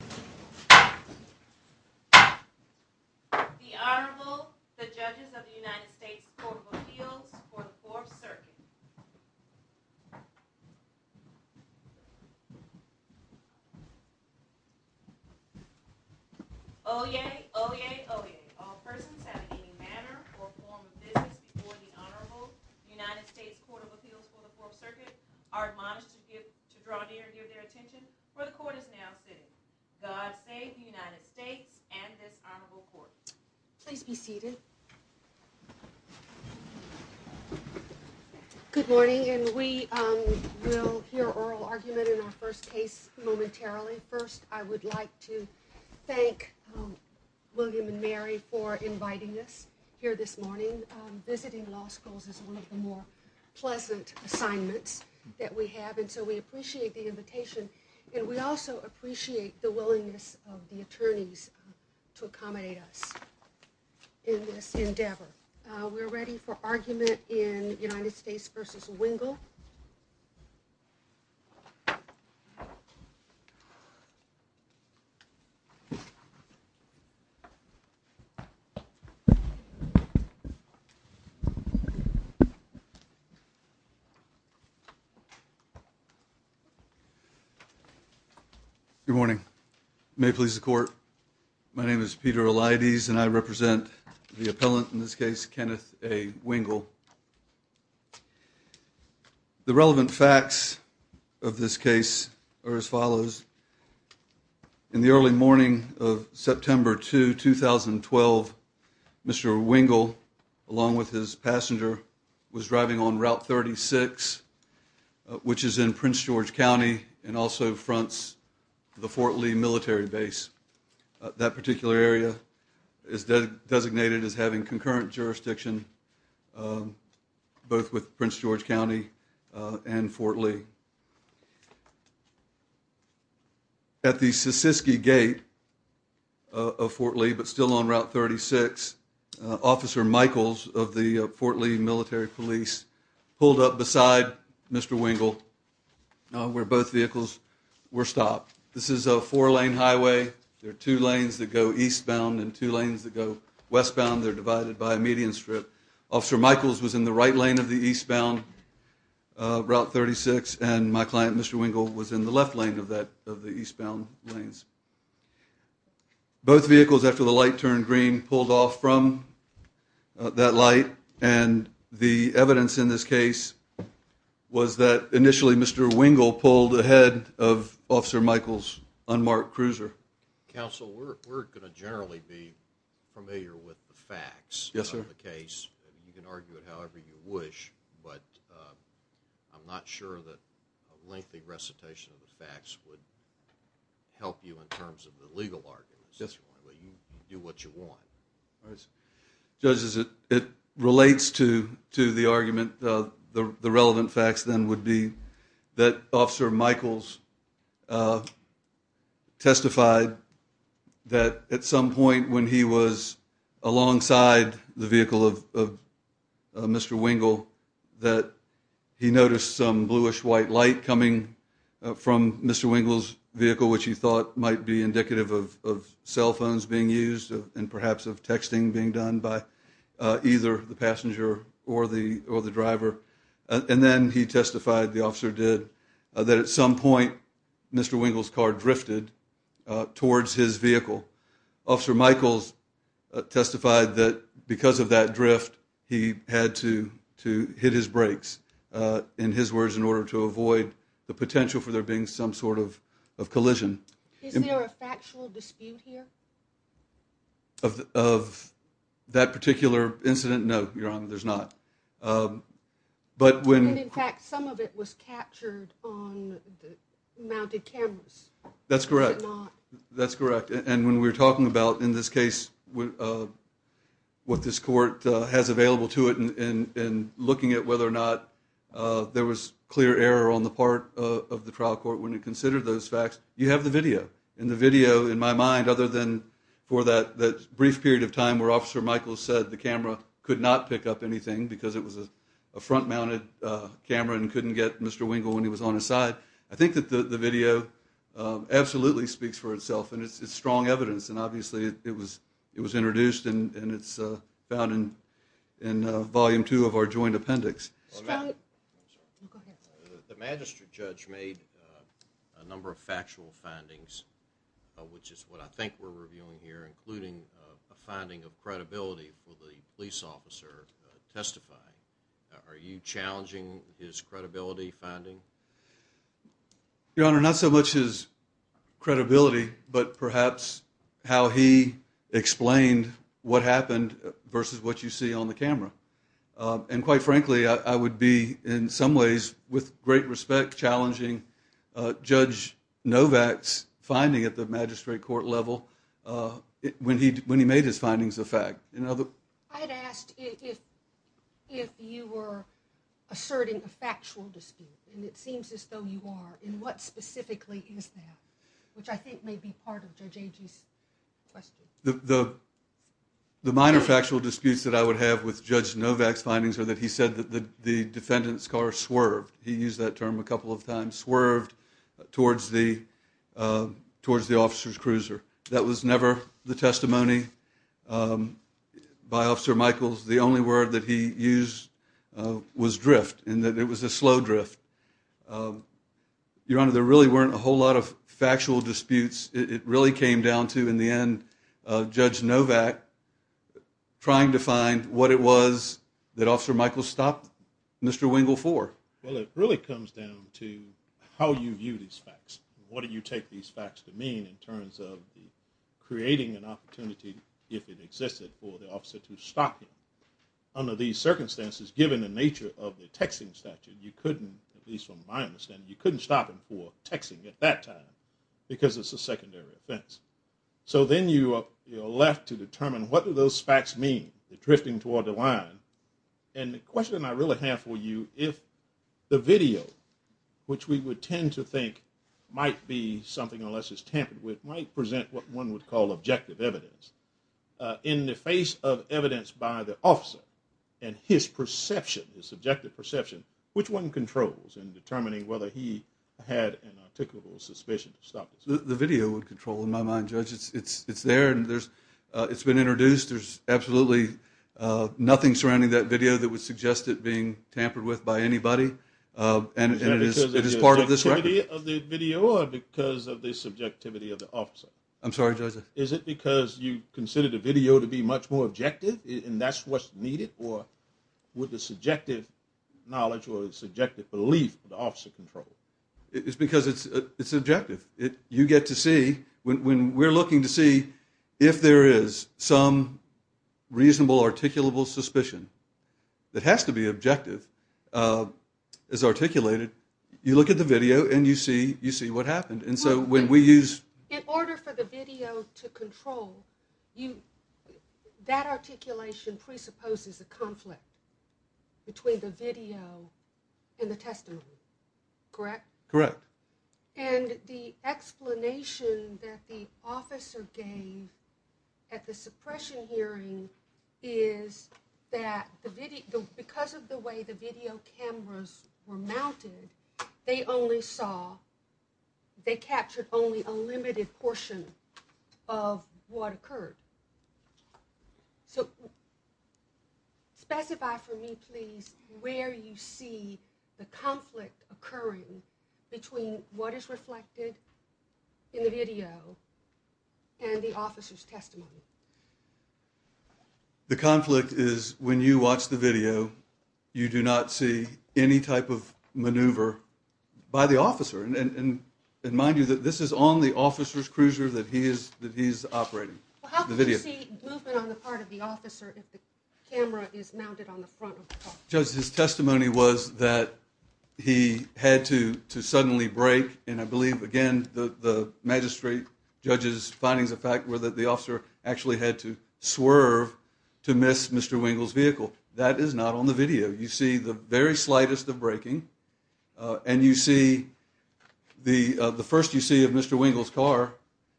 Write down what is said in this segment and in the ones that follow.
The Honorable, the Judges of the United States Court of Appeals for the Fourth Circuit. Oyez, oyez, oyez. All persons having any manner or form of business before the Honorable United States Court of Appeals for the Fourth Circuit are admonished to draw near and give their attention where the Court is now sitting. God save the United States and this Honorable Court. Please be seated. Good morning, and we will hear oral argument in our first case momentarily. First, I would like to thank William and Mary for inviting us here this morning. Visiting law schools is one of the more pleasant assignments that we have, and so we appreciate the invitation. And we also appreciate the willingness of the attorneys to accommodate us in this endeavor. We're ready for argument in United States v. Wingle. Good morning. May it please the Court. My name is Peter Eliades, and I represent the appellant in this case, Kenneth A. Wingle. The relevant facts of this case are as follows. In the early morning of September 2, 2012, Mr. Wingle, along with his passenger, was driving on Route 36, which is in Prince George County and also fronts the Fort Lee military base. That particular area is designated as having concurrent jurisdiction both with Prince George County and Fort Lee. At the Sissiski Gate of Fort Lee, but still on Route 36, Officer Michaels of the Fort Lee military police pulled up beside Mr. Wingle, where both vehicles were stopped. This is a four-lane highway. There are two lanes that go eastbound and two lanes that go westbound. They're divided by a median strip. Officer Michaels was in the right lane of the eastbound Route 36, and my client, Mr. Wingle, was in the left lane of the eastbound lanes. Both vehicles, after the light turned green, pulled off from that light, and the evidence in this case was that initially Mr. Wingle pulled ahead of Officer Michaels' unmarked cruiser. Counsel, we're going to generally be familiar with the facts of the case. You can argue it however you wish, but I'm not sure that a lengthy recitation of the facts would help you in terms of the legal arguments. It relates to the argument. The relevant facts then would be that Officer Michaels testified that at some point when he was alongside the vehicle of Mr. Wingle, that he noticed some bluish-white light coming from Mr. Wingle's vehicle, which he thought might be indicative of cell phones being used and perhaps of texting being done by either the passenger or the driver. And then he testified, the officer did, that at some point Mr. Wingle's car drifted towards his vehicle. Officer Michaels testified that because of that drift, he had to hit his brakes, in his words, in order to avoid the potential for there being some sort of collision. Is there a factual dispute here? Of that particular incident? No, Your Honor, there's not. And in fact, some of it was captured on mounted cameras, was it not? That's correct. That's correct. And when we're talking about, in this case, what this court has available to it in looking at whether or not there was clear error on the part of the trial court when it considered those facts, you have the video. And the video, in my mind, other than for that brief period of time where Officer Michaels said the camera could not pick up anything because it was a front-mounted camera and couldn't get Mr. Wingle when he was on his side, I think that the video absolutely speaks for itself. And it's strong evidence, and obviously it was introduced and it's found in Volume 2 of our Joint Appendix. Go ahead. The magistrate judge made a number of factual findings, which is what I think we're reviewing here, including a finding of credibility for the police officer testifying. Are you challenging his credibility finding? Your Honor, not so much his credibility, but perhaps how he explained what happened versus what you see on the camera. And quite frankly, I would be, in some ways, with great respect, challenging Judge Novak's finding at the magistrate court level when he made his findings a fact. I had asked if you were asserting a factual dispute, and it seems as though you are. And what specifically is that, which I think may be part of Judge Agee's question. The minor factual disputes that I would have with Judge Novak's findings are that he said that the defendant's car swerved. He used that term a couple of times, swerved towards the officer's cruiser. That was never the testimony by Officer Michaels. The only word that he used was drift, and that it was a slow drift. Your Honor, there really weren't a whole lot of factual disputes. It really came down to, in the end, Judge Novak trying to find what it was that Officer Michaels stopped Mr. Wingle for. Well, it really comes down to how you view these facts. What do you take these facts to mean in terms of creating an opportunity, if it existed, for the officer to stop him? Under these circumstances, given the nature of the texting statute, you couldn't, at least from my understanding, you couldn't stop him for texting at that time because it's a secondary offense. So then you are left to determine what do those facts mean, the drifting toward the line. And the question I really have for you, if the video, which we would tend to think might be something, unless it's tampered with, might present what one would call objective evidence. In the face of evidence by the officer and his perception, his subjective perception, which one controls in determining whether he had an articulable suspicion to stop him? The video would control, in my mind, Judge. It's there and it's been introduced. There's absolutely nothing surrounding that video that would suggest it being tampered with by anybody, and it is part of this record. Is it because of the video or because of the subjectivity of the officer? I'm sorry, Judge. Is it because you consider the video to be much more objective and that's what's needed, or with the subjective knowledge or the subjective belief of the officer control? It's because it's objective. You get to see, when we're looking to see if there is some reasonable articulable suspicion that has to be objective as articulated, you look at the video and you see what happened. In order for the video to control, that articulation presupposes a conflict between the video and the testimony, correct? Correct. And the explanation that the officer gave at the suppression hearing is that because of the way the video cameras were mounted, they only saw, they captured only a limited portion of what occurred. So specify for me, please, where you see the conflict occurring between what is reflected in the video and the officer's testimony. The conflict is when you watch the video, you do not see any type of maneuver by the officer. And mind you, this is on the officer's cruiser that he is operating. Well, how can you see movement on the part of the officer if the camera is mounted on the front of the car? Judge, his testimony was that he had to suddenly brake, and I believe, again, the magistrate judge's findings of fact were that the officer actually had to swerve to miss Mr. Wingle's vehicle. That is not on the video. You see the very slightest of braking, and you see the first you see of Mr. Wingle's car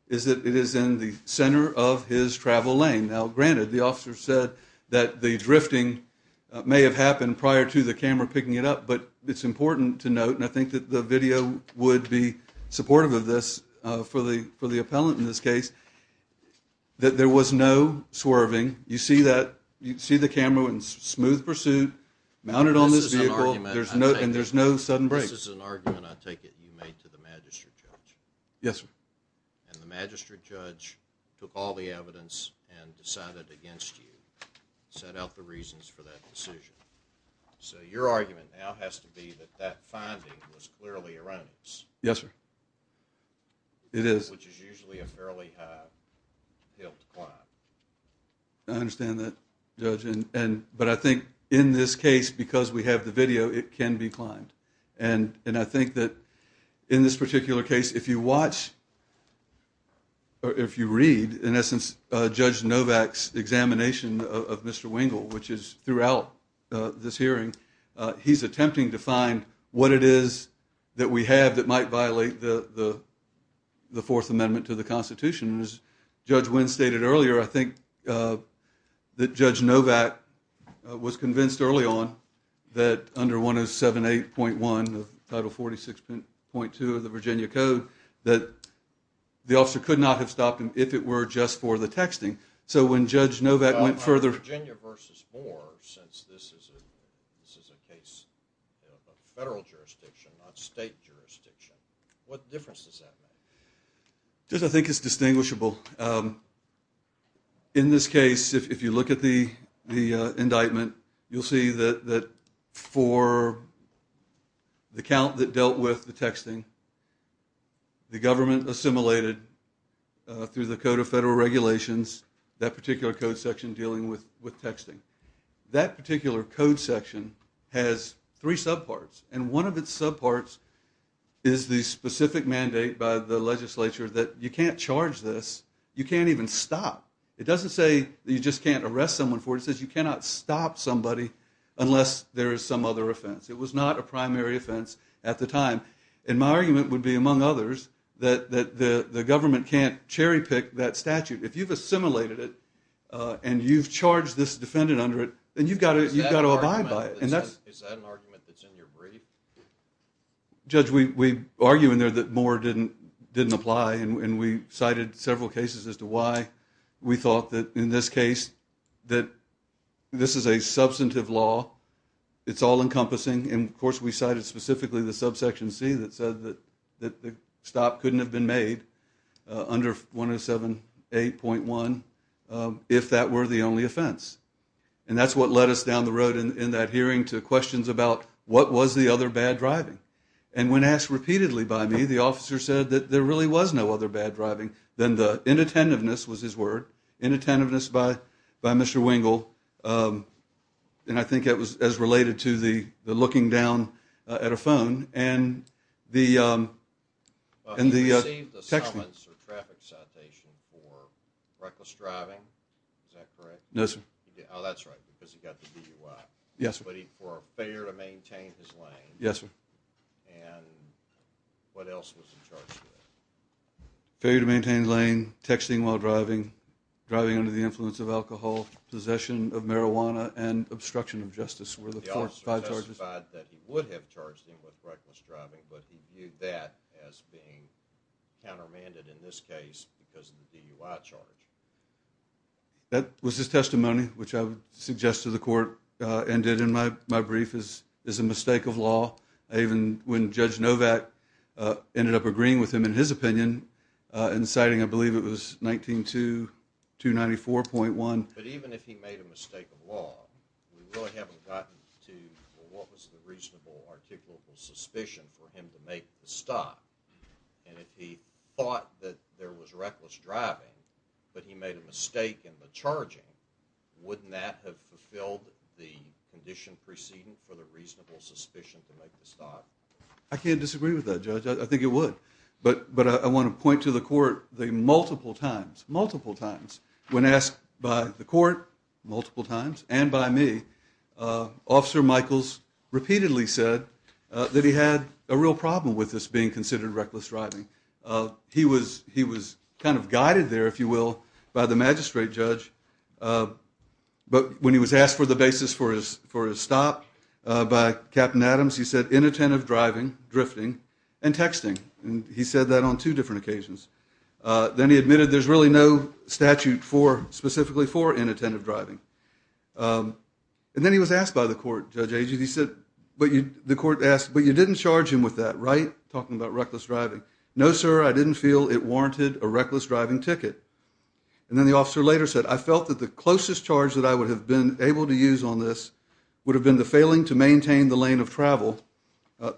is that it is in the center of his travel lane. Now, granted, the officer said that the drifting may have happened prior to the camera picking it up, but it's important to note, and I think that the video would be supportive of this for the appellant in this case, that there was no swerving. You see the camera in smooth pursuit, mounted on this vehicle, and there's no sudden braking. This is an argument, I take it, you made to the magistrate judge. Yes, sir. And the magistrate judge took all the evidence and decided against you, set out the reasons for that decision. So your argument now has to be that that finding was clearly erroneous. Yes, sir. It is. I understand that, Judge. But I think in this case, because we have the video, it can be climbed. And I think that in this particular case, if you watch or if you read, in essence, Judge Novak's examination of Mr. Wingle, which is throughout this hearing, he's attempting to find what it is that we have that might violate the Fourth Amendment to the Constitution. As Judge Winn stated earlier, I think that Judge Novak was convinced early on that under 107.8.1 of Title 46.2 of the Virginia Code, that the officer could not have stopped him if it were just for the texting. So when Judge Novak went further... Virginia versus Boer, since this is a case of federal jurisdiction, not state jurisdiction, what difference does that make? Judge, I think it's distinguishable. In this case, if you look at the indictment, you'll see that for the count that dealt with the texting, the government assimilated, through the Code of Federal Regulations, that particular code section dealing with texting. That particular code section has three subparts. And one of its subparts is the specific mandate by the legislature that you can't charge this. You can't even stop. It doesn't say that you just can't arrest someone for it. It says you cannot stop somebody unless there is some other offense. It was not a primary offense at the time. And my argument would be, among others, that the government can't cherry pick that statute. If you've assimilated it and you've charged this defendant under it, then you've got to abide by it. Is that an argument that's in your brief? Judge, we argue in there that Moore didn't apply. And we cited several cases as to why we thought that, in this case, that this is a substantive law. It's all encompassing. And, of course, we cited specifically the subsection C that said that the stop couldn't have been made under 107.8.1 if that were the only offense. And that's what led us down the road in that hearing to questions about what was the other bad driving. And when asked repeatedly by me, the officer said that there really was no other bad driving than the inattentiveness, was his word, inattentiveness by Mr. Wingle. And I think that was as related to the looking down at a phone and the texting. He received a summons or traffic citation for reckless driving, is that correct? No, sir. Oh, that's right, because he got the DUI. Yes, sir. But for a failure to maintain his lane. Yes, sir. And what else was he charged with? Failure to maintain lane, texting while driving, driving under the influence of alcohol, possession of marijuana, and obstruction of justice were the five charges. The officer testified that he would have charged him with reckless driving, but he viewed that as being countermanded in this case because of the DUI charge. That was his testimony, which I would suggest to the court and did in my brief, is a mistake of law. Even when Judge Novak ended up agreeing with him in his opinion, in citing, I believe it was 19.2, 294.1. But even if he made a mistake of law, we really haven't gotten to what was the reasonable articulable suspicion for him to make the stop. And if he thought that there was reckless driving, but he made a mistake in the charging, wouldn't that have fulfilled the condition preceding for the reasonable suspicion to make the stop? I can't disagree with that, Judge. I think it would. But I want to point to the court the multiple times, multiple times, when asked by the court multiple times and by me, Officer Michaels repeatedly said that he had a real problem with this being considered reckless driving. He was kind of guided there, if you will, by the magistrate judge. But when he was asked for the basis for his stop by Captain Adams, he said inattentive driving, drifting, and texting. And he said that on two different occasions. Then he admitted there's really no statute specifically for inattentive driving. And then he was asked by the court, Judge Agee, he said, the court asked, but you didn't charge him with that, right? Talking about reckless driving. No, sir, I didn't feel it warranted a reckless driving ticket. And then the officer later said, I felt that the closest charge that I would have been able to use on this would have been the failing to maintain the lane of travel.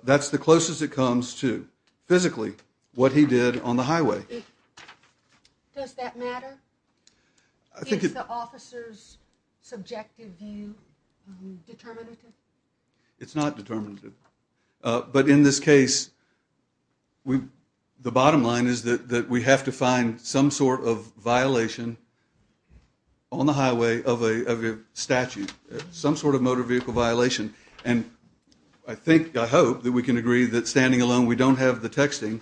That's the closest it comes to physically what he did on the highway. Does that matter? Is the officer's subjective view determinative? It's not determinative. But in this case, the bottom line is that we have to find some sort of violation on the highway of a statute, some sort of motor vehicle violation. And I think, I hope, that we can agree that standing alone we don't have the texting.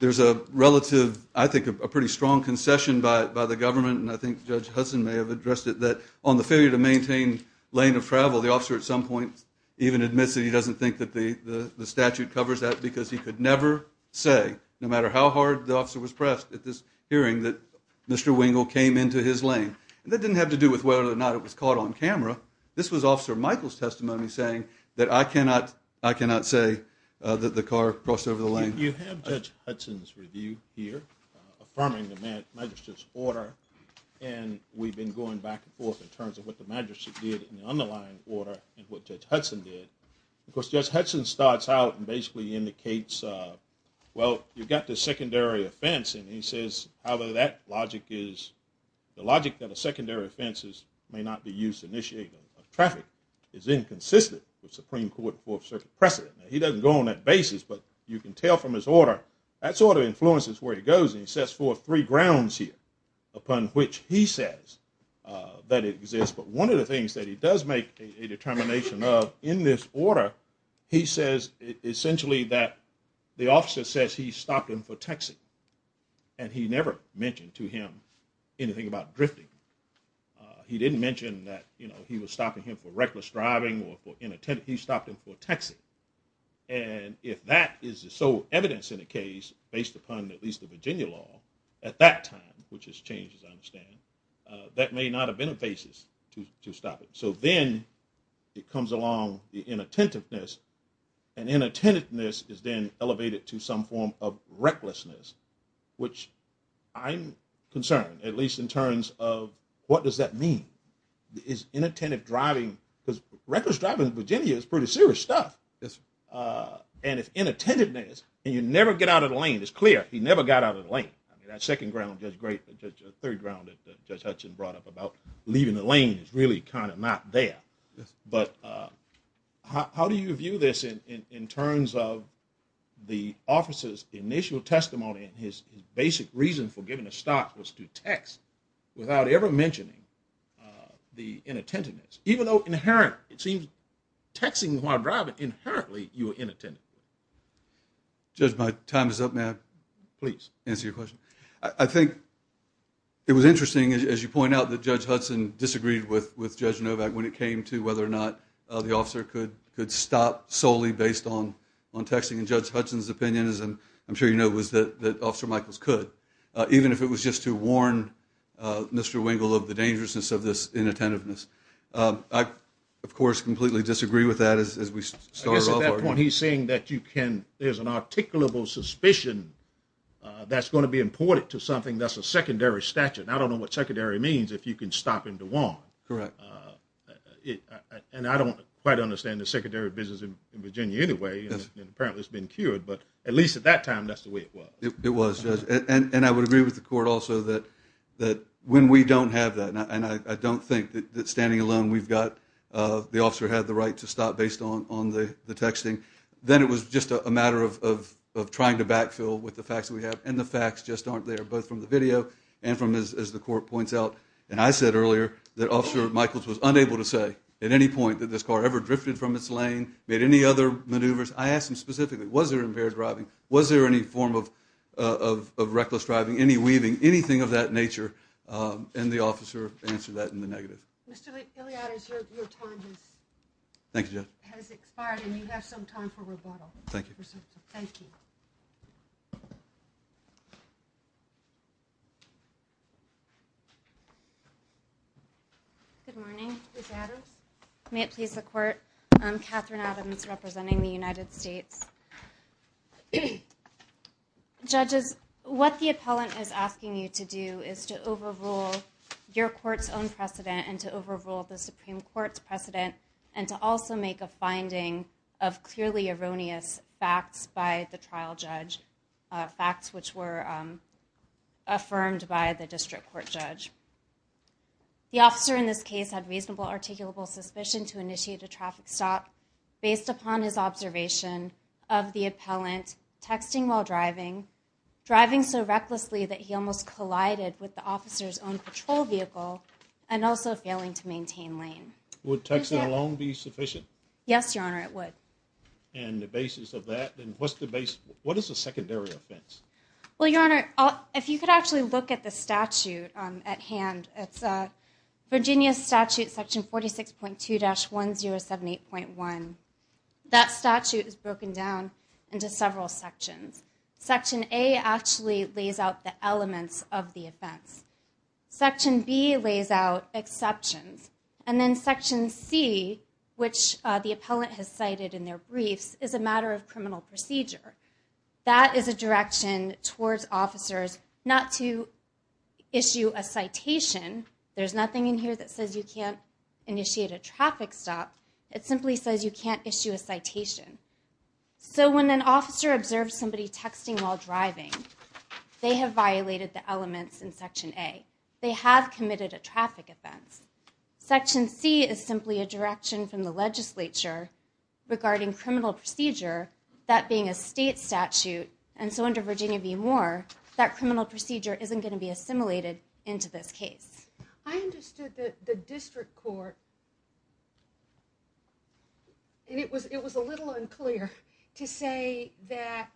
There's a relative, I think, a pretty strong concession by the government, and I think Judge Hudson may have addressed it, that on the failure to maintain lane of travel, the officer at some point even admits that he doesn't think that the statute covers that because he could never say, no matter how hard the officer was pressed at this hearing, that Mr. Wingle came into his lane. And that didn't have to do with whether or not it was caught on camera. This was Officer Michael's testimony saying that I cannot say that the car crossed over the lane. You have Judge Hudson's review here affirming the magistrate's order, and we've been going back and forth in terms of what the magistrate did in the underlying order and what Judge Hudson did. Of course, Judge Hudson starts out and basically indicates, well, you've got this secondary offense, and he says, however, that logic is, the logic that a secondary offense may not be used to initiate traffic is inconsistent with Supreme Court Fourth Circuit precedent. He doesn't go on that basis, but you can tell from his order, that sort of influences where he goes, and he sets forth three grounds here upon which he says that it exists. But one of the things that he does make a determination of in this order, he says essentially that the officer says he stopped him for texting, and he never mentioned to him anything about drifting. He didn't mention that he was stopping him for reckless driving or for inattentive. He stopped him for texting. And if that is the sole evidence in a case based upon at least the Virginia law at that time, which has changed, as I understand, that may not have been a basis to stop it. So then it comes along the inattentiveness, and inattentiveness is then elevated to some form of recklessness, which I'm concerned, at least in terms of what does that mean? Inattentive driving, because reckless driving in Virginia is pretty serious stuff. And if inattentiveness, and you never get out of the lane, it's clear, he never got out of the lane. That second ground, that third ground that Judge Hutchins brought up about leaving the lane is really kind of not there. But how do you view this in terms of the officer's initial testimony and his basic reason for giving a stop was to text without ever mentioning the inattentiveness, even though it seems texting while driving inherently you are inattentive? Judge, my time is up. May I please answer your question? I think it was interesting, as you point out, that Judge Hudson disagreed with Judge Novak when it came to whether or not the officer could stop solely based on texting. And Judge Hudson's opinion, as I'm sure you know, was that Officer Michaels could, even if it was just to warn Mr. Wengel of the dangerousness of this inattentiveness. I, of course, completely disagree with that as we started off. I guess at that point he's saying that you can, there's an articulable suspicion that's going to be important to something. That's a secondary statute. I don't know what secondary means, if you can stop him to warn. Correct. And I don't quite understand the secondary business in Virginia anyway, and apparently it's been cured, but at least at that time that's the way it was. It was, Judge, and I would agree with the court also that when we don't have that, and I don't think that standing alone we've got the officer had the right to stop based on the texting, then it was just a matter of trying to backfill with the facts that we have, and the facts just aren't there, both from the video and from, as the court points out, and I said earlier that Officer Michaels was unable to say at any point that this car ever drifted from its lane, made any other maneuvers. I asked him specifically, was there impaired driving, was there any form of reckless driving, any weaving, anything of that nature, and the officer answered that in the negative. Mr. Iliadis, your time has expired and you have some time for rebuttal. Thank you. Thank you. Good morning. May it please the court. I'm Catherine Adams representing the United States. Judges, what the appellant is asking you to do is to overrule your court's own precedent and to overrule the Supreme Court's precedent and to also make a finding of clearly erroneous facts by the trial judge, facts which were affirmed by the district court judge. The officer in this case had reasonable articulable suspicion to initiate a traffic stop based upon his observation of the appellant texting while driving, driving so recklessly that he almost collided with the officer's own patrol vehicle, and also failing to maintain lane. Would texting alone be sufficient? Yes, Your Honor, it would. And the basis of that, what is the secondary offense? Well, Your Honor, if you could actually look at the statute at hand, it's Virginia Statute section 46.2-1078.1. That statute is broken down into several sections. Section A actually lays out the elements of the offense. Section B lays out exceptions. And then Section C, which the appellant has cited in their briefs, is a matter of criminal procedure. That is a direction towards officers not to issue a citation. There's nothing in here that says you can't initiate a traffic stop. It simply says you can't issue a citation. So when an officer observes somebody texting while driving, they have violated the elements in Section A. They have committed a traffic offense. Section C is simply a direction from the legislature regarding criminal procedure, that being a state statute. And so under Virginia v. Moore, that criminal procedure isn't going to be assimilated into this case. I understood that the district court, and it was a little unclear to say that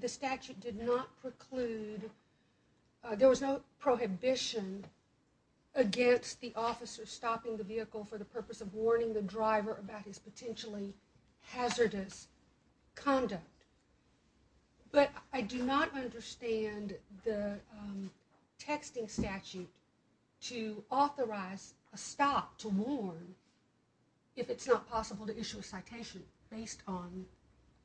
the statute did not preclude, there was no prohibition against the officer stopping the vehicle for the purpose of warning the driver about his potentially hazardous conduct. But I do not understand the texting statute to authorize a stop to warn if it's not possible to issue a citation based on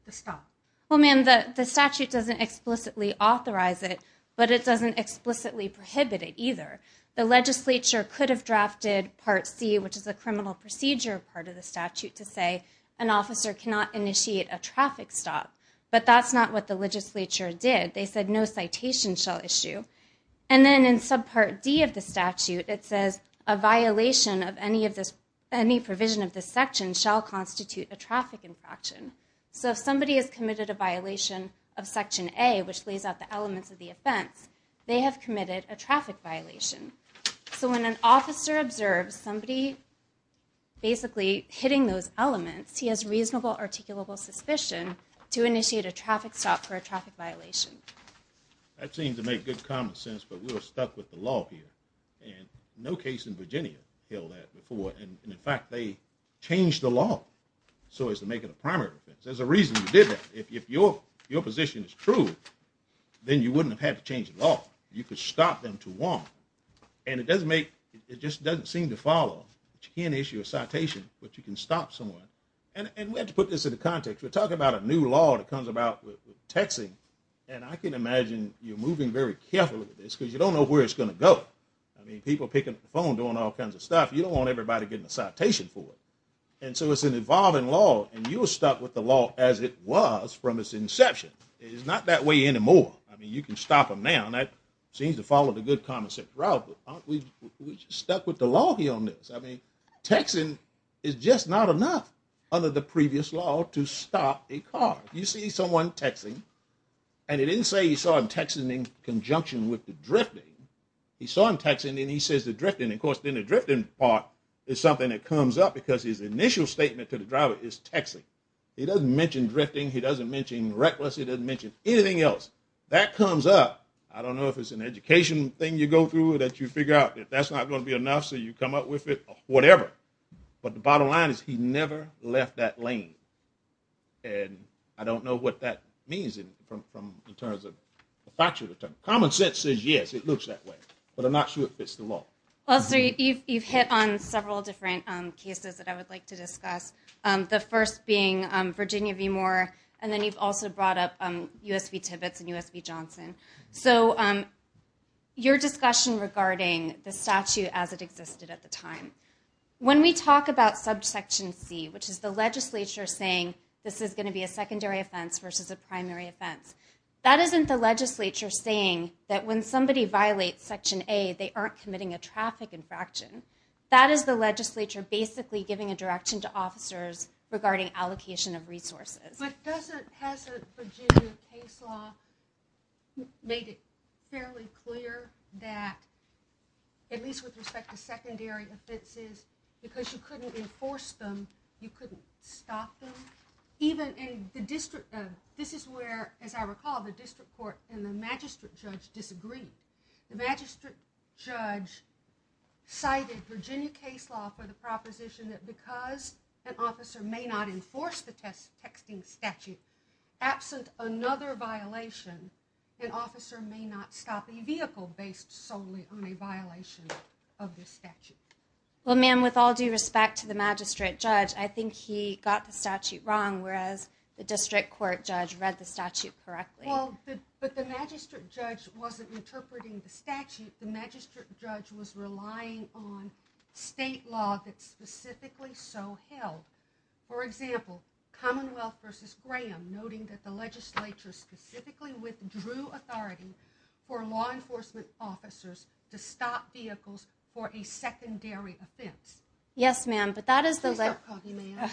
the stop. Well, ma'am, the statute doesn't explicitly authorize it, but it doesn't explicitly prohibit it either. The legislature could have drafted Part C, which is the criminal procedure part of the statute, to say an officer cannot initiate a traffic stop. But that's not what the legislature did. They said no citation shall issue. And then in Subpart D of the statute, it says a violation of any provision of this section shall constitute a traffic infraction. So if somebody has committed a violation of Section A, which lays out the elements of the offense, they have committed a traffic violation. So when an officer observes somebody basically hitting those elements, he has reasonable articulable suspicion to initiate a traffic stop for a traffic violation. That seems to make good common sense, but we're stuck with the law here. And no case in Virginia held that before. And in fact, they changed the law so as to make it a primary offense. There's a reason you did that. If your position is true, then you wouldn't have had to change the law. You could stop them to one. And it just doesn't seem to follow that you can't issue a citation, but you can stop someone. And we have to put this into context. We're talking about a new law that comes about with texting, and I can imagine you're moving very carefully with this because you don't know where it's going to go. I mean, people are picking up the phone, doing all kinds of stuff. You don't want everybody getting a citation for it. And so it's an evolving law, and you were stuck with the law as it was from its inception. It is not that way anymore. I mean, you can stop them now, and that seems to follow the good common sense route, but aren't we stuck with the law here on this? I mean, texting is just not enough under the previous law to stop a car. You see someone texting, and it didn't say you saw him texting in conjunction with the drifting. You saw him texting, and he says the drifting. Of course, then the drifting part is something that comes up because his initial statement to the driver is texting. He doesn't mention drifting. He doesn't mention reckless. He doesn't mention anything else. That comes up. I don't know if it's an education thing you go through that you figure out that that's not going to be enough, so you come up with it or whatever, but the bottom line is he never left that lane, and I don't know what that means in terms of factual terms. Common sense says, yes, it looks that way, but I'm not sure it fits the law. Well, sir, you've hit on several different cases that I would like to discuss, the first being Virginia v. Moore, and then you've also brought up U.S. v. Tibbetts and U.S. v. Johnson. So your discussion regarding the statute as it existed at the time, when we talk about subsection C, which is the legislature saying this is going to be a secondary offense versus a primary offense, that isn't the legislature saying that when somebody violates section A, they aren't committing a traffic infraction. That is the legislature basically giving a direction to officers regarding allocation of resources. But hasn't Virginia case law made it fairly clear that, at least with respect to secondary offenses, because you couldn't enforce them, you couldn't stop them? This is where, as I recall, the district court and the magistrate judge disagreed. The magistrate judge cited Virginia case law for the proposition that, because an officer may not enforce the texting statute, absent another violation, an officer may not stop a vehicle based solely on a violation of the statute. Well, ma'am, with all due respect to the magistrate judge, I think he got the statute wrong, whereas the district court judge read the statute correctly. Well, but the magistrate judge wasn't interpreting the statute. The magistrate judge was relying on state law that specifically so held. For example, Commonwealth versus Graham, noting that the legislature specifically withdrew authority for law enforcement officers to stop vehicles for a secondary offense. Yes, ma'am. Please stop talking, ma'am.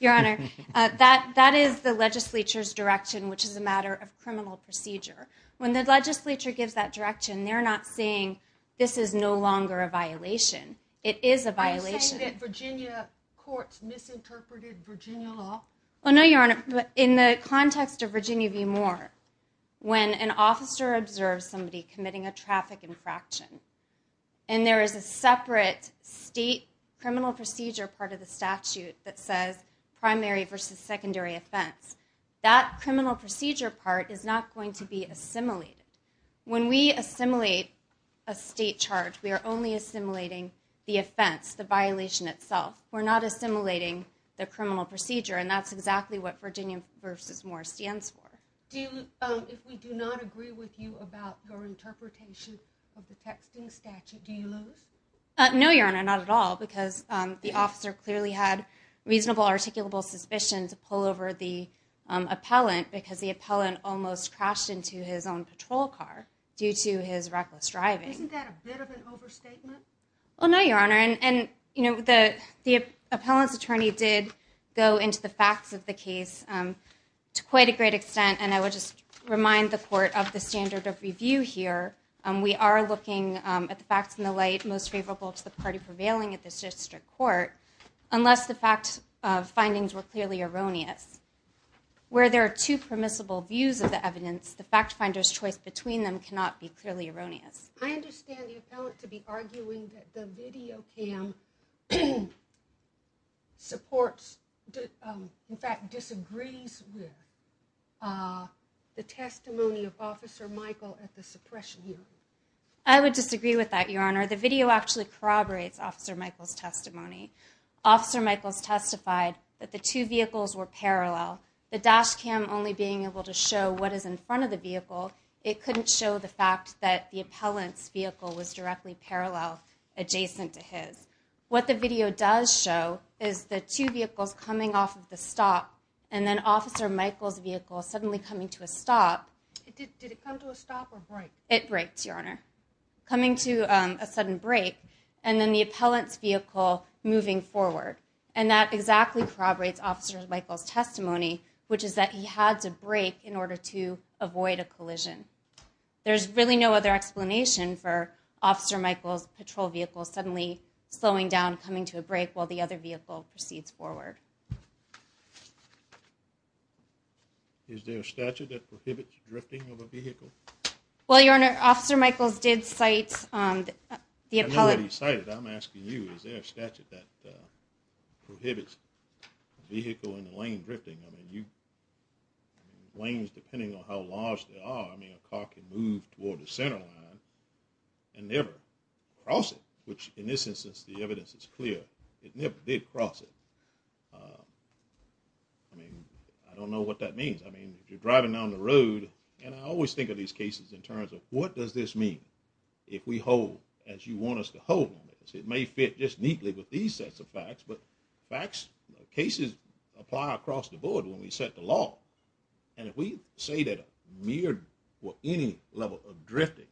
Your Honor, that is the legislature's direction, which is a matter of criminal procedure. When the legislature gives that direction, they're not saying this is no longer a violation. It is a violation. Are you saying that Virginia courts misinterpreted Virginia law? No, Your Honor. In the context of Virginia v. Moore, when an officer observes somebody committing a traffic infraction and there is a separate state criminal procedure part of the statute that says primary versus secondary offense, that criminal procedure part is not going to be assimilated. When we assimilate a state charge, we are only assimilating the offense, the violation itself. We're not assimilating the criminal procedure, and that's exactly what Virginia v. Moore stands for. If we do not agree with you about your interpretation of the texting statute, do you lose? No, Your Honor, not at all, because the officer clearly had reasonable articulable suspicion to pull over the appellant because the appellant almost crashed into his own patrol car due to his reckless driving. Isn't that a bit of an overstatement? No, Your Honor. The appellant's attorney did go into the facts of the case to quite a great extent, and I would just remind the court of the standard of review here. We are looking at the facts in the light most favorable to the party prevailing at this district court unless the fact findings were clearly erroneous. Where there are two permissible views of the evidence, the fact finder's choice between them cannot be clearly erroneous. I understand the appellant to be arguing that the video cam supports, in fact disagrees with, the testimony of Officer Michael at the suppression hearing. I would disagree with that, Your Honor. The video actually corroborates Officer Michael's testimony. Officer Michael's testified that the two vehicles were parallel. The dash cam only being able to show what is in front of the vehicle, it couldn't show the fact that the appellant's vehicle was directly parallel adjacent to his. What the video does show is the two vehicles coming off of the stop and then Officer Michael's vehicle suddenly coming to a stop. Did it come to a stop or break? It breaks, Your Honor. Coming to a sudden break, and then the appellant's vehicle moving forward. And that exactly corroborates Officer Michael's testimony, which is that he had to break in order to avoid a collision. There's really no other explanation for Officer Michael's patrol vehicle suddenly slowing down, coming to a break, while the other vehicle proceeds forward. Is there a statute that prohibits drifting of a vehicle? Well, Your Honor, Officer Michael's did cite the appellant. I know that he cited it. I'm asking you. Is there a statute that prohibits a vehicle in a lane drifting? I mean, lanes, depending on how large they are, I mean, a car can move toward the center line and never cross it, which, in this instance, the evidence is clear. It never did cross it. I mean, I don't know what that means. I mean, if you're driving down the road, and I always think of these cases in terms of what does this mean if we hold as you want us to hold on this? It may fit just neatly with these sets of facts, but facts, cases, apply across the board when we set the law. And if we say that mere or any level of drifting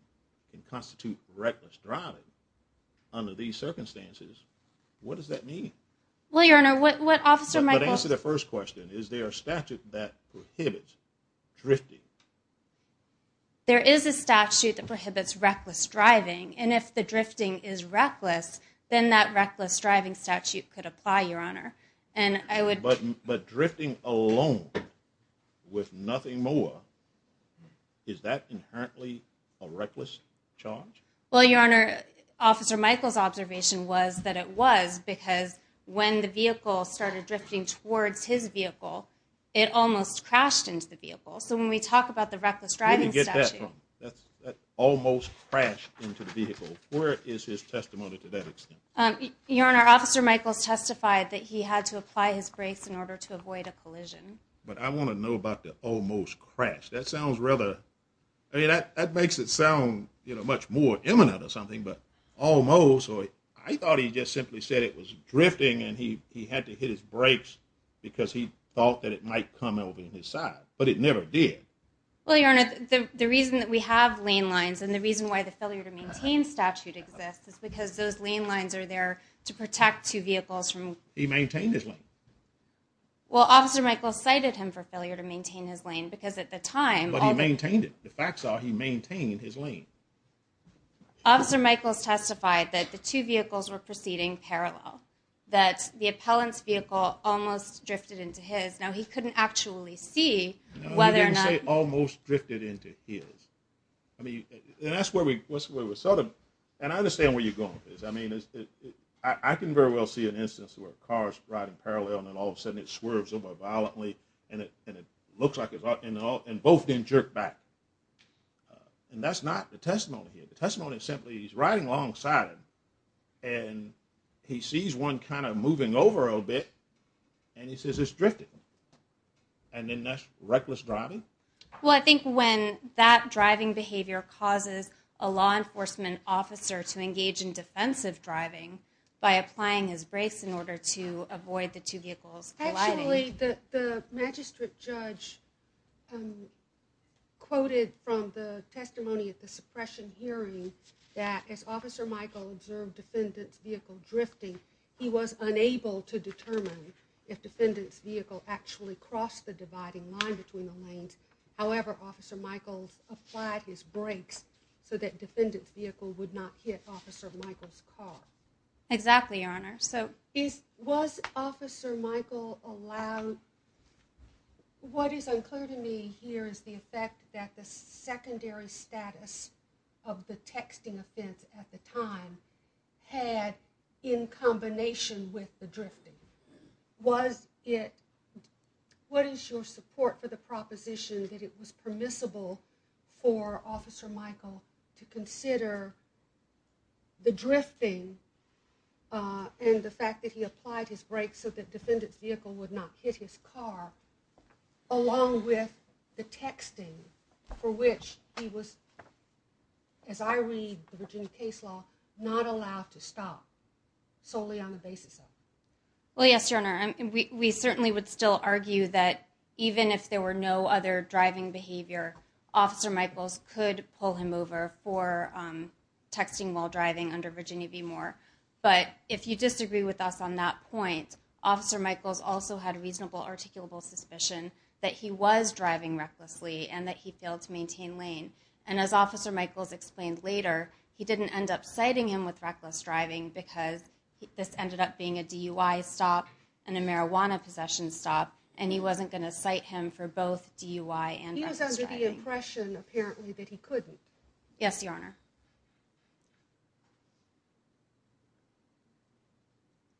can constitute reckless driving under these circumstances, what does that mean? Well, Your Honor, what Officer Michael... But answer the first question. Is there a statute that prohibits drifting? There is a statute that prohibits reckless driving, and if the drifting is reckless, then that reckless driving statute could apply, Your Honor. But drifting alone with nothing more, is that inherently a reckless charge? Well, Your Honor, Officer Michael's observation was that it was because when the vehicle started drifting towards his vehicle, it almost crashed into the vehicle. So when we talk about the reckless driving statute... Where did you get that from? That almost crashed into the vehicle. Where is his testimony to that extent? Your Honor, Officer Michael's testified that he had to apply his brakes in order to avoid a collision. But I want to know about the almost crashed. That sounds rather... That makes it sound much more imminent or something, but almost, or I thought he just simply said it was drifting and he had to hit his brakes because he thought that it might come over his side, but it never did. Well, Your Honor, the reason that we have lane lines and the reason why the failure to maintain statute exists is because those lane lines are there to protect two vehicles from... He maintained his lane. Well, Officer Michael cited him for failure to maintain his lane because at the time... But he maintained it. The facts are he maintained his lane. Officer Michael's testified that the two vehicles were proceeding parallel, that the appellant's vehicle almost drifted into his. Now, he couldn't actually see whether or not... No, he didn't say almost drifted into his. I mean, and that's where we sort of... Where are you going with this? I mean, I can very well see an instance where a car's riding parallel and then all of a sudden it swerves over violently and it looks like it's... And both didn't jerk back. And that's not the testimony here. The testimony is simply he's riding alongside him and he sees one kind of moving over a little bit and he says it's drifting. And then that's reckless driving? Well, I think when that driving behavior causes a law enforcement officer to engage in defensive driving by applying his brakes in order to avoid the two vehicles colliding... Actually, the magistrate judge quoted from the testimony at the suppression hearing that as Officer Michael observed defendant's vehicle drifting, he was unable to determine if defendant's vehicle actually crossed the dividing line between the lanes. However, Officer Michael applied his brakes so that defendant's vehicle would not hit Officer Michael's car. Exactly, Your Honor. Was Officer Michael allowed... What is unclear to me here is the effect that the secondary status of the texting offense at the time had in combination with the drifting. Was it... What is your support for the proposition that it was permissible for Officer Michael to consider the drifting and the fact that he applied his brakes so that defendant's vehicle would not hit his car along with the texting for which he was, as I read the Virginia case law, not allowed to stop solely on the basis of? Well, yes, Your Honor. We certainly would still argue that even if there were no other driving behavior, Officer Michaels could pull him over for texting while driving under Virginia v. Moore. But if you disagree with us on that point, Officer Michaels also had reasonable articulable suspicion that he was driving recklessly and that he failed to maintain lane. And as Officer Michaels explained later, he didn't end up citing him with reckless driving because this ended up being a DUI stop and a marijuana possession stop, and he wasn't going to cite him for both DUI and reckless driving. He was under the impression, apparently, that he couldn't. Yes, Your Honor.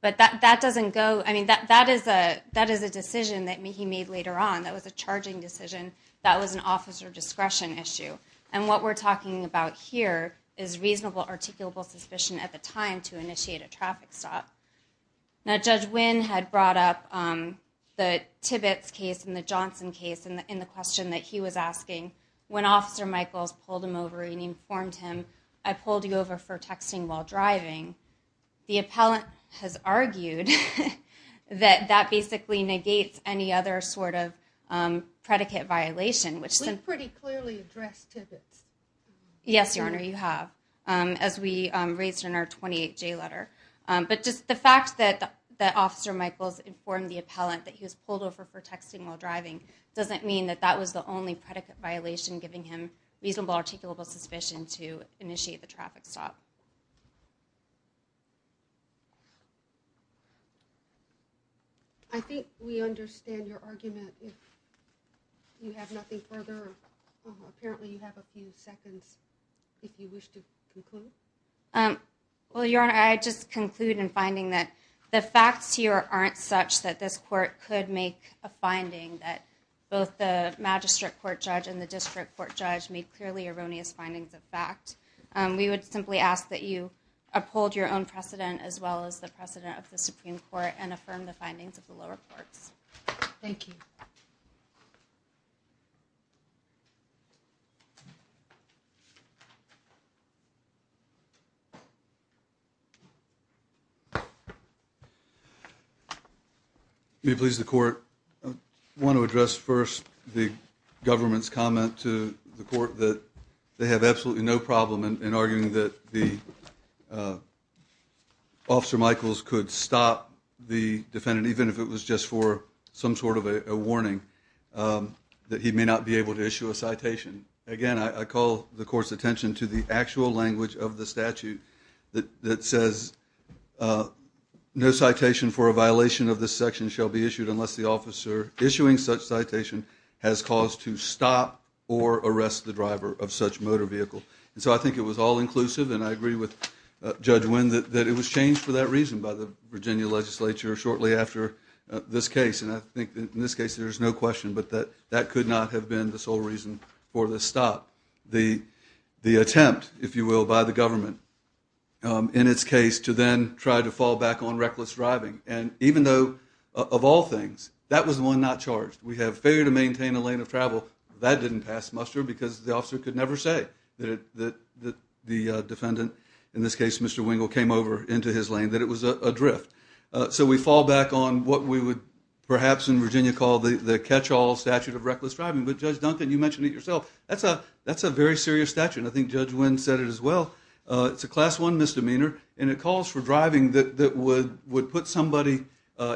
But that doesn't go... I mean, that is a decision that he made later on. That was a charging decision. That was an officer discretion issue. And what we're talking about here is reasonable articulable suspicion at the time to initiate a traffic stop. Now, Judge Winn had brought up the Tibbetts case and the Johnson case in the question that he was asking. When Officer Michaels pulled him over and informed him, I pulled you over for texting while driving, the appellant has argued that that basically negates any other sort of predicate violation, which then... We've pretty clearly addressed Tibbetts. Yes, Your Honor, you have, as we raised in our 28J letter. But just the fact that Officer Michaels informed the appellant that he was pulled over for texting while driving doesn't mean that that was the only predicate violation giving him reasonable articulable suspicion to initiate the traffic stop. I think we understand your argument. You have nothing further? Apparently you have a few seconds if you wish to conclude. Well, Your Honor, I just conclude in finding that the facts here aren't such that this court could make a finding that both the magistrate court judge and the district court judge made clearly erroneous findings of fact. We would simply ask that you uphold your own precedent as well as the precedent of the Supreme Court and affirm the findings of the lower courts. Thank you. May it please the court, I want to address first the government's comment to the court that they have absolutely no problem in arguing that the Officer Michaels could stop the defendant, even if it was just for some sort of a warning, that he may not be able to issue a citation. Again, I call the court's attention to the actual language of the statute that says no citation for a violation of this section shall be issued unless the officer issuing such citation has cause to stop or arrest the driver of such motor vehicle. So I think it was all inclusive, and I agree with Judge Wynn that it was changed for that reason by the Virginia legislature shortly after this case. And I think in this case there is no question that that could not have been the sole reason for the stop. The attempt, if you will, by the government, in its case, to then try to fall back on reckless driving. And even though, of all things, that was the one not charged. We have failure to maintain a lane of travel. That didn't pass muster because the officer could never say that the defendant, in this case Mr. Wingle, came over into his lane, that it was adrift. So we fall back on what we would perhaps in Virginia call the catch-all statute of reckless driving. But Judge Duncan, you mentioned it yourself. That's a very serious statute, and I think Judge Wynn said it as well. It's a Class I misdemeanor, and it calls for driving that would put somebody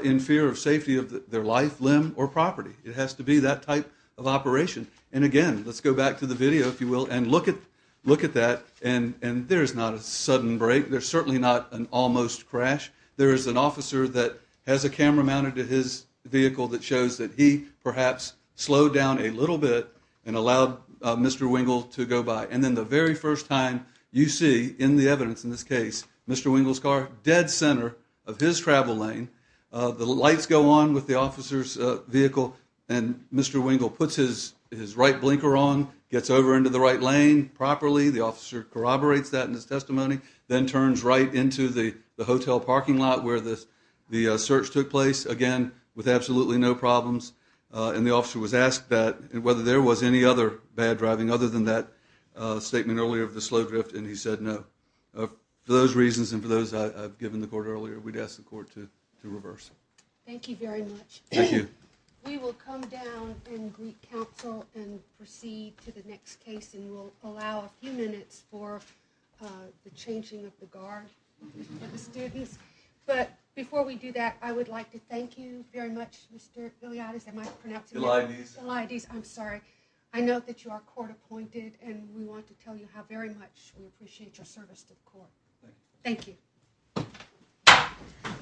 in fear of safety of their life, limb, or property. It has to be that type of operation. And again, let's go back to the video, if you will, and look at that. And there is not a sudden break. There's certainly not an almost crash. There is an officer that has a camera mounted to his vehicle that shows that he perhaps slowed down a little bit and allowed Mr. Wingle to go by. And then the very first time you see in the evidence in this case Mr. Wingle's car dead center of his travel lane, the lights go on with the officer's vehicle, and Mr. Wingle puts his right blinker on, gets over into the right lane properly. The officer corroborates that in his testimony, then turns right into the hotel parking lot where the search took place, again, with absolutely no problems. And the officer was asked whether there was any other bad driving other than that statement earlier of the slow drift, and he said no. For those reasons and for those I've given the court earlier, we'd ask the court to reverse. Thank you very much. Thank you. We will come down and re-counsel and proceed to the next case, and we'll allow a few minutes for the changing of the guard for the students. But before we do that, I would like to thank you very much, Mr. Filiades. Am I pronouncing that right? Filiades. Filiades, I'm sorry. I know that you are court-appointed, and we want to tell you how very much we appreciate your service to the court. Thank you.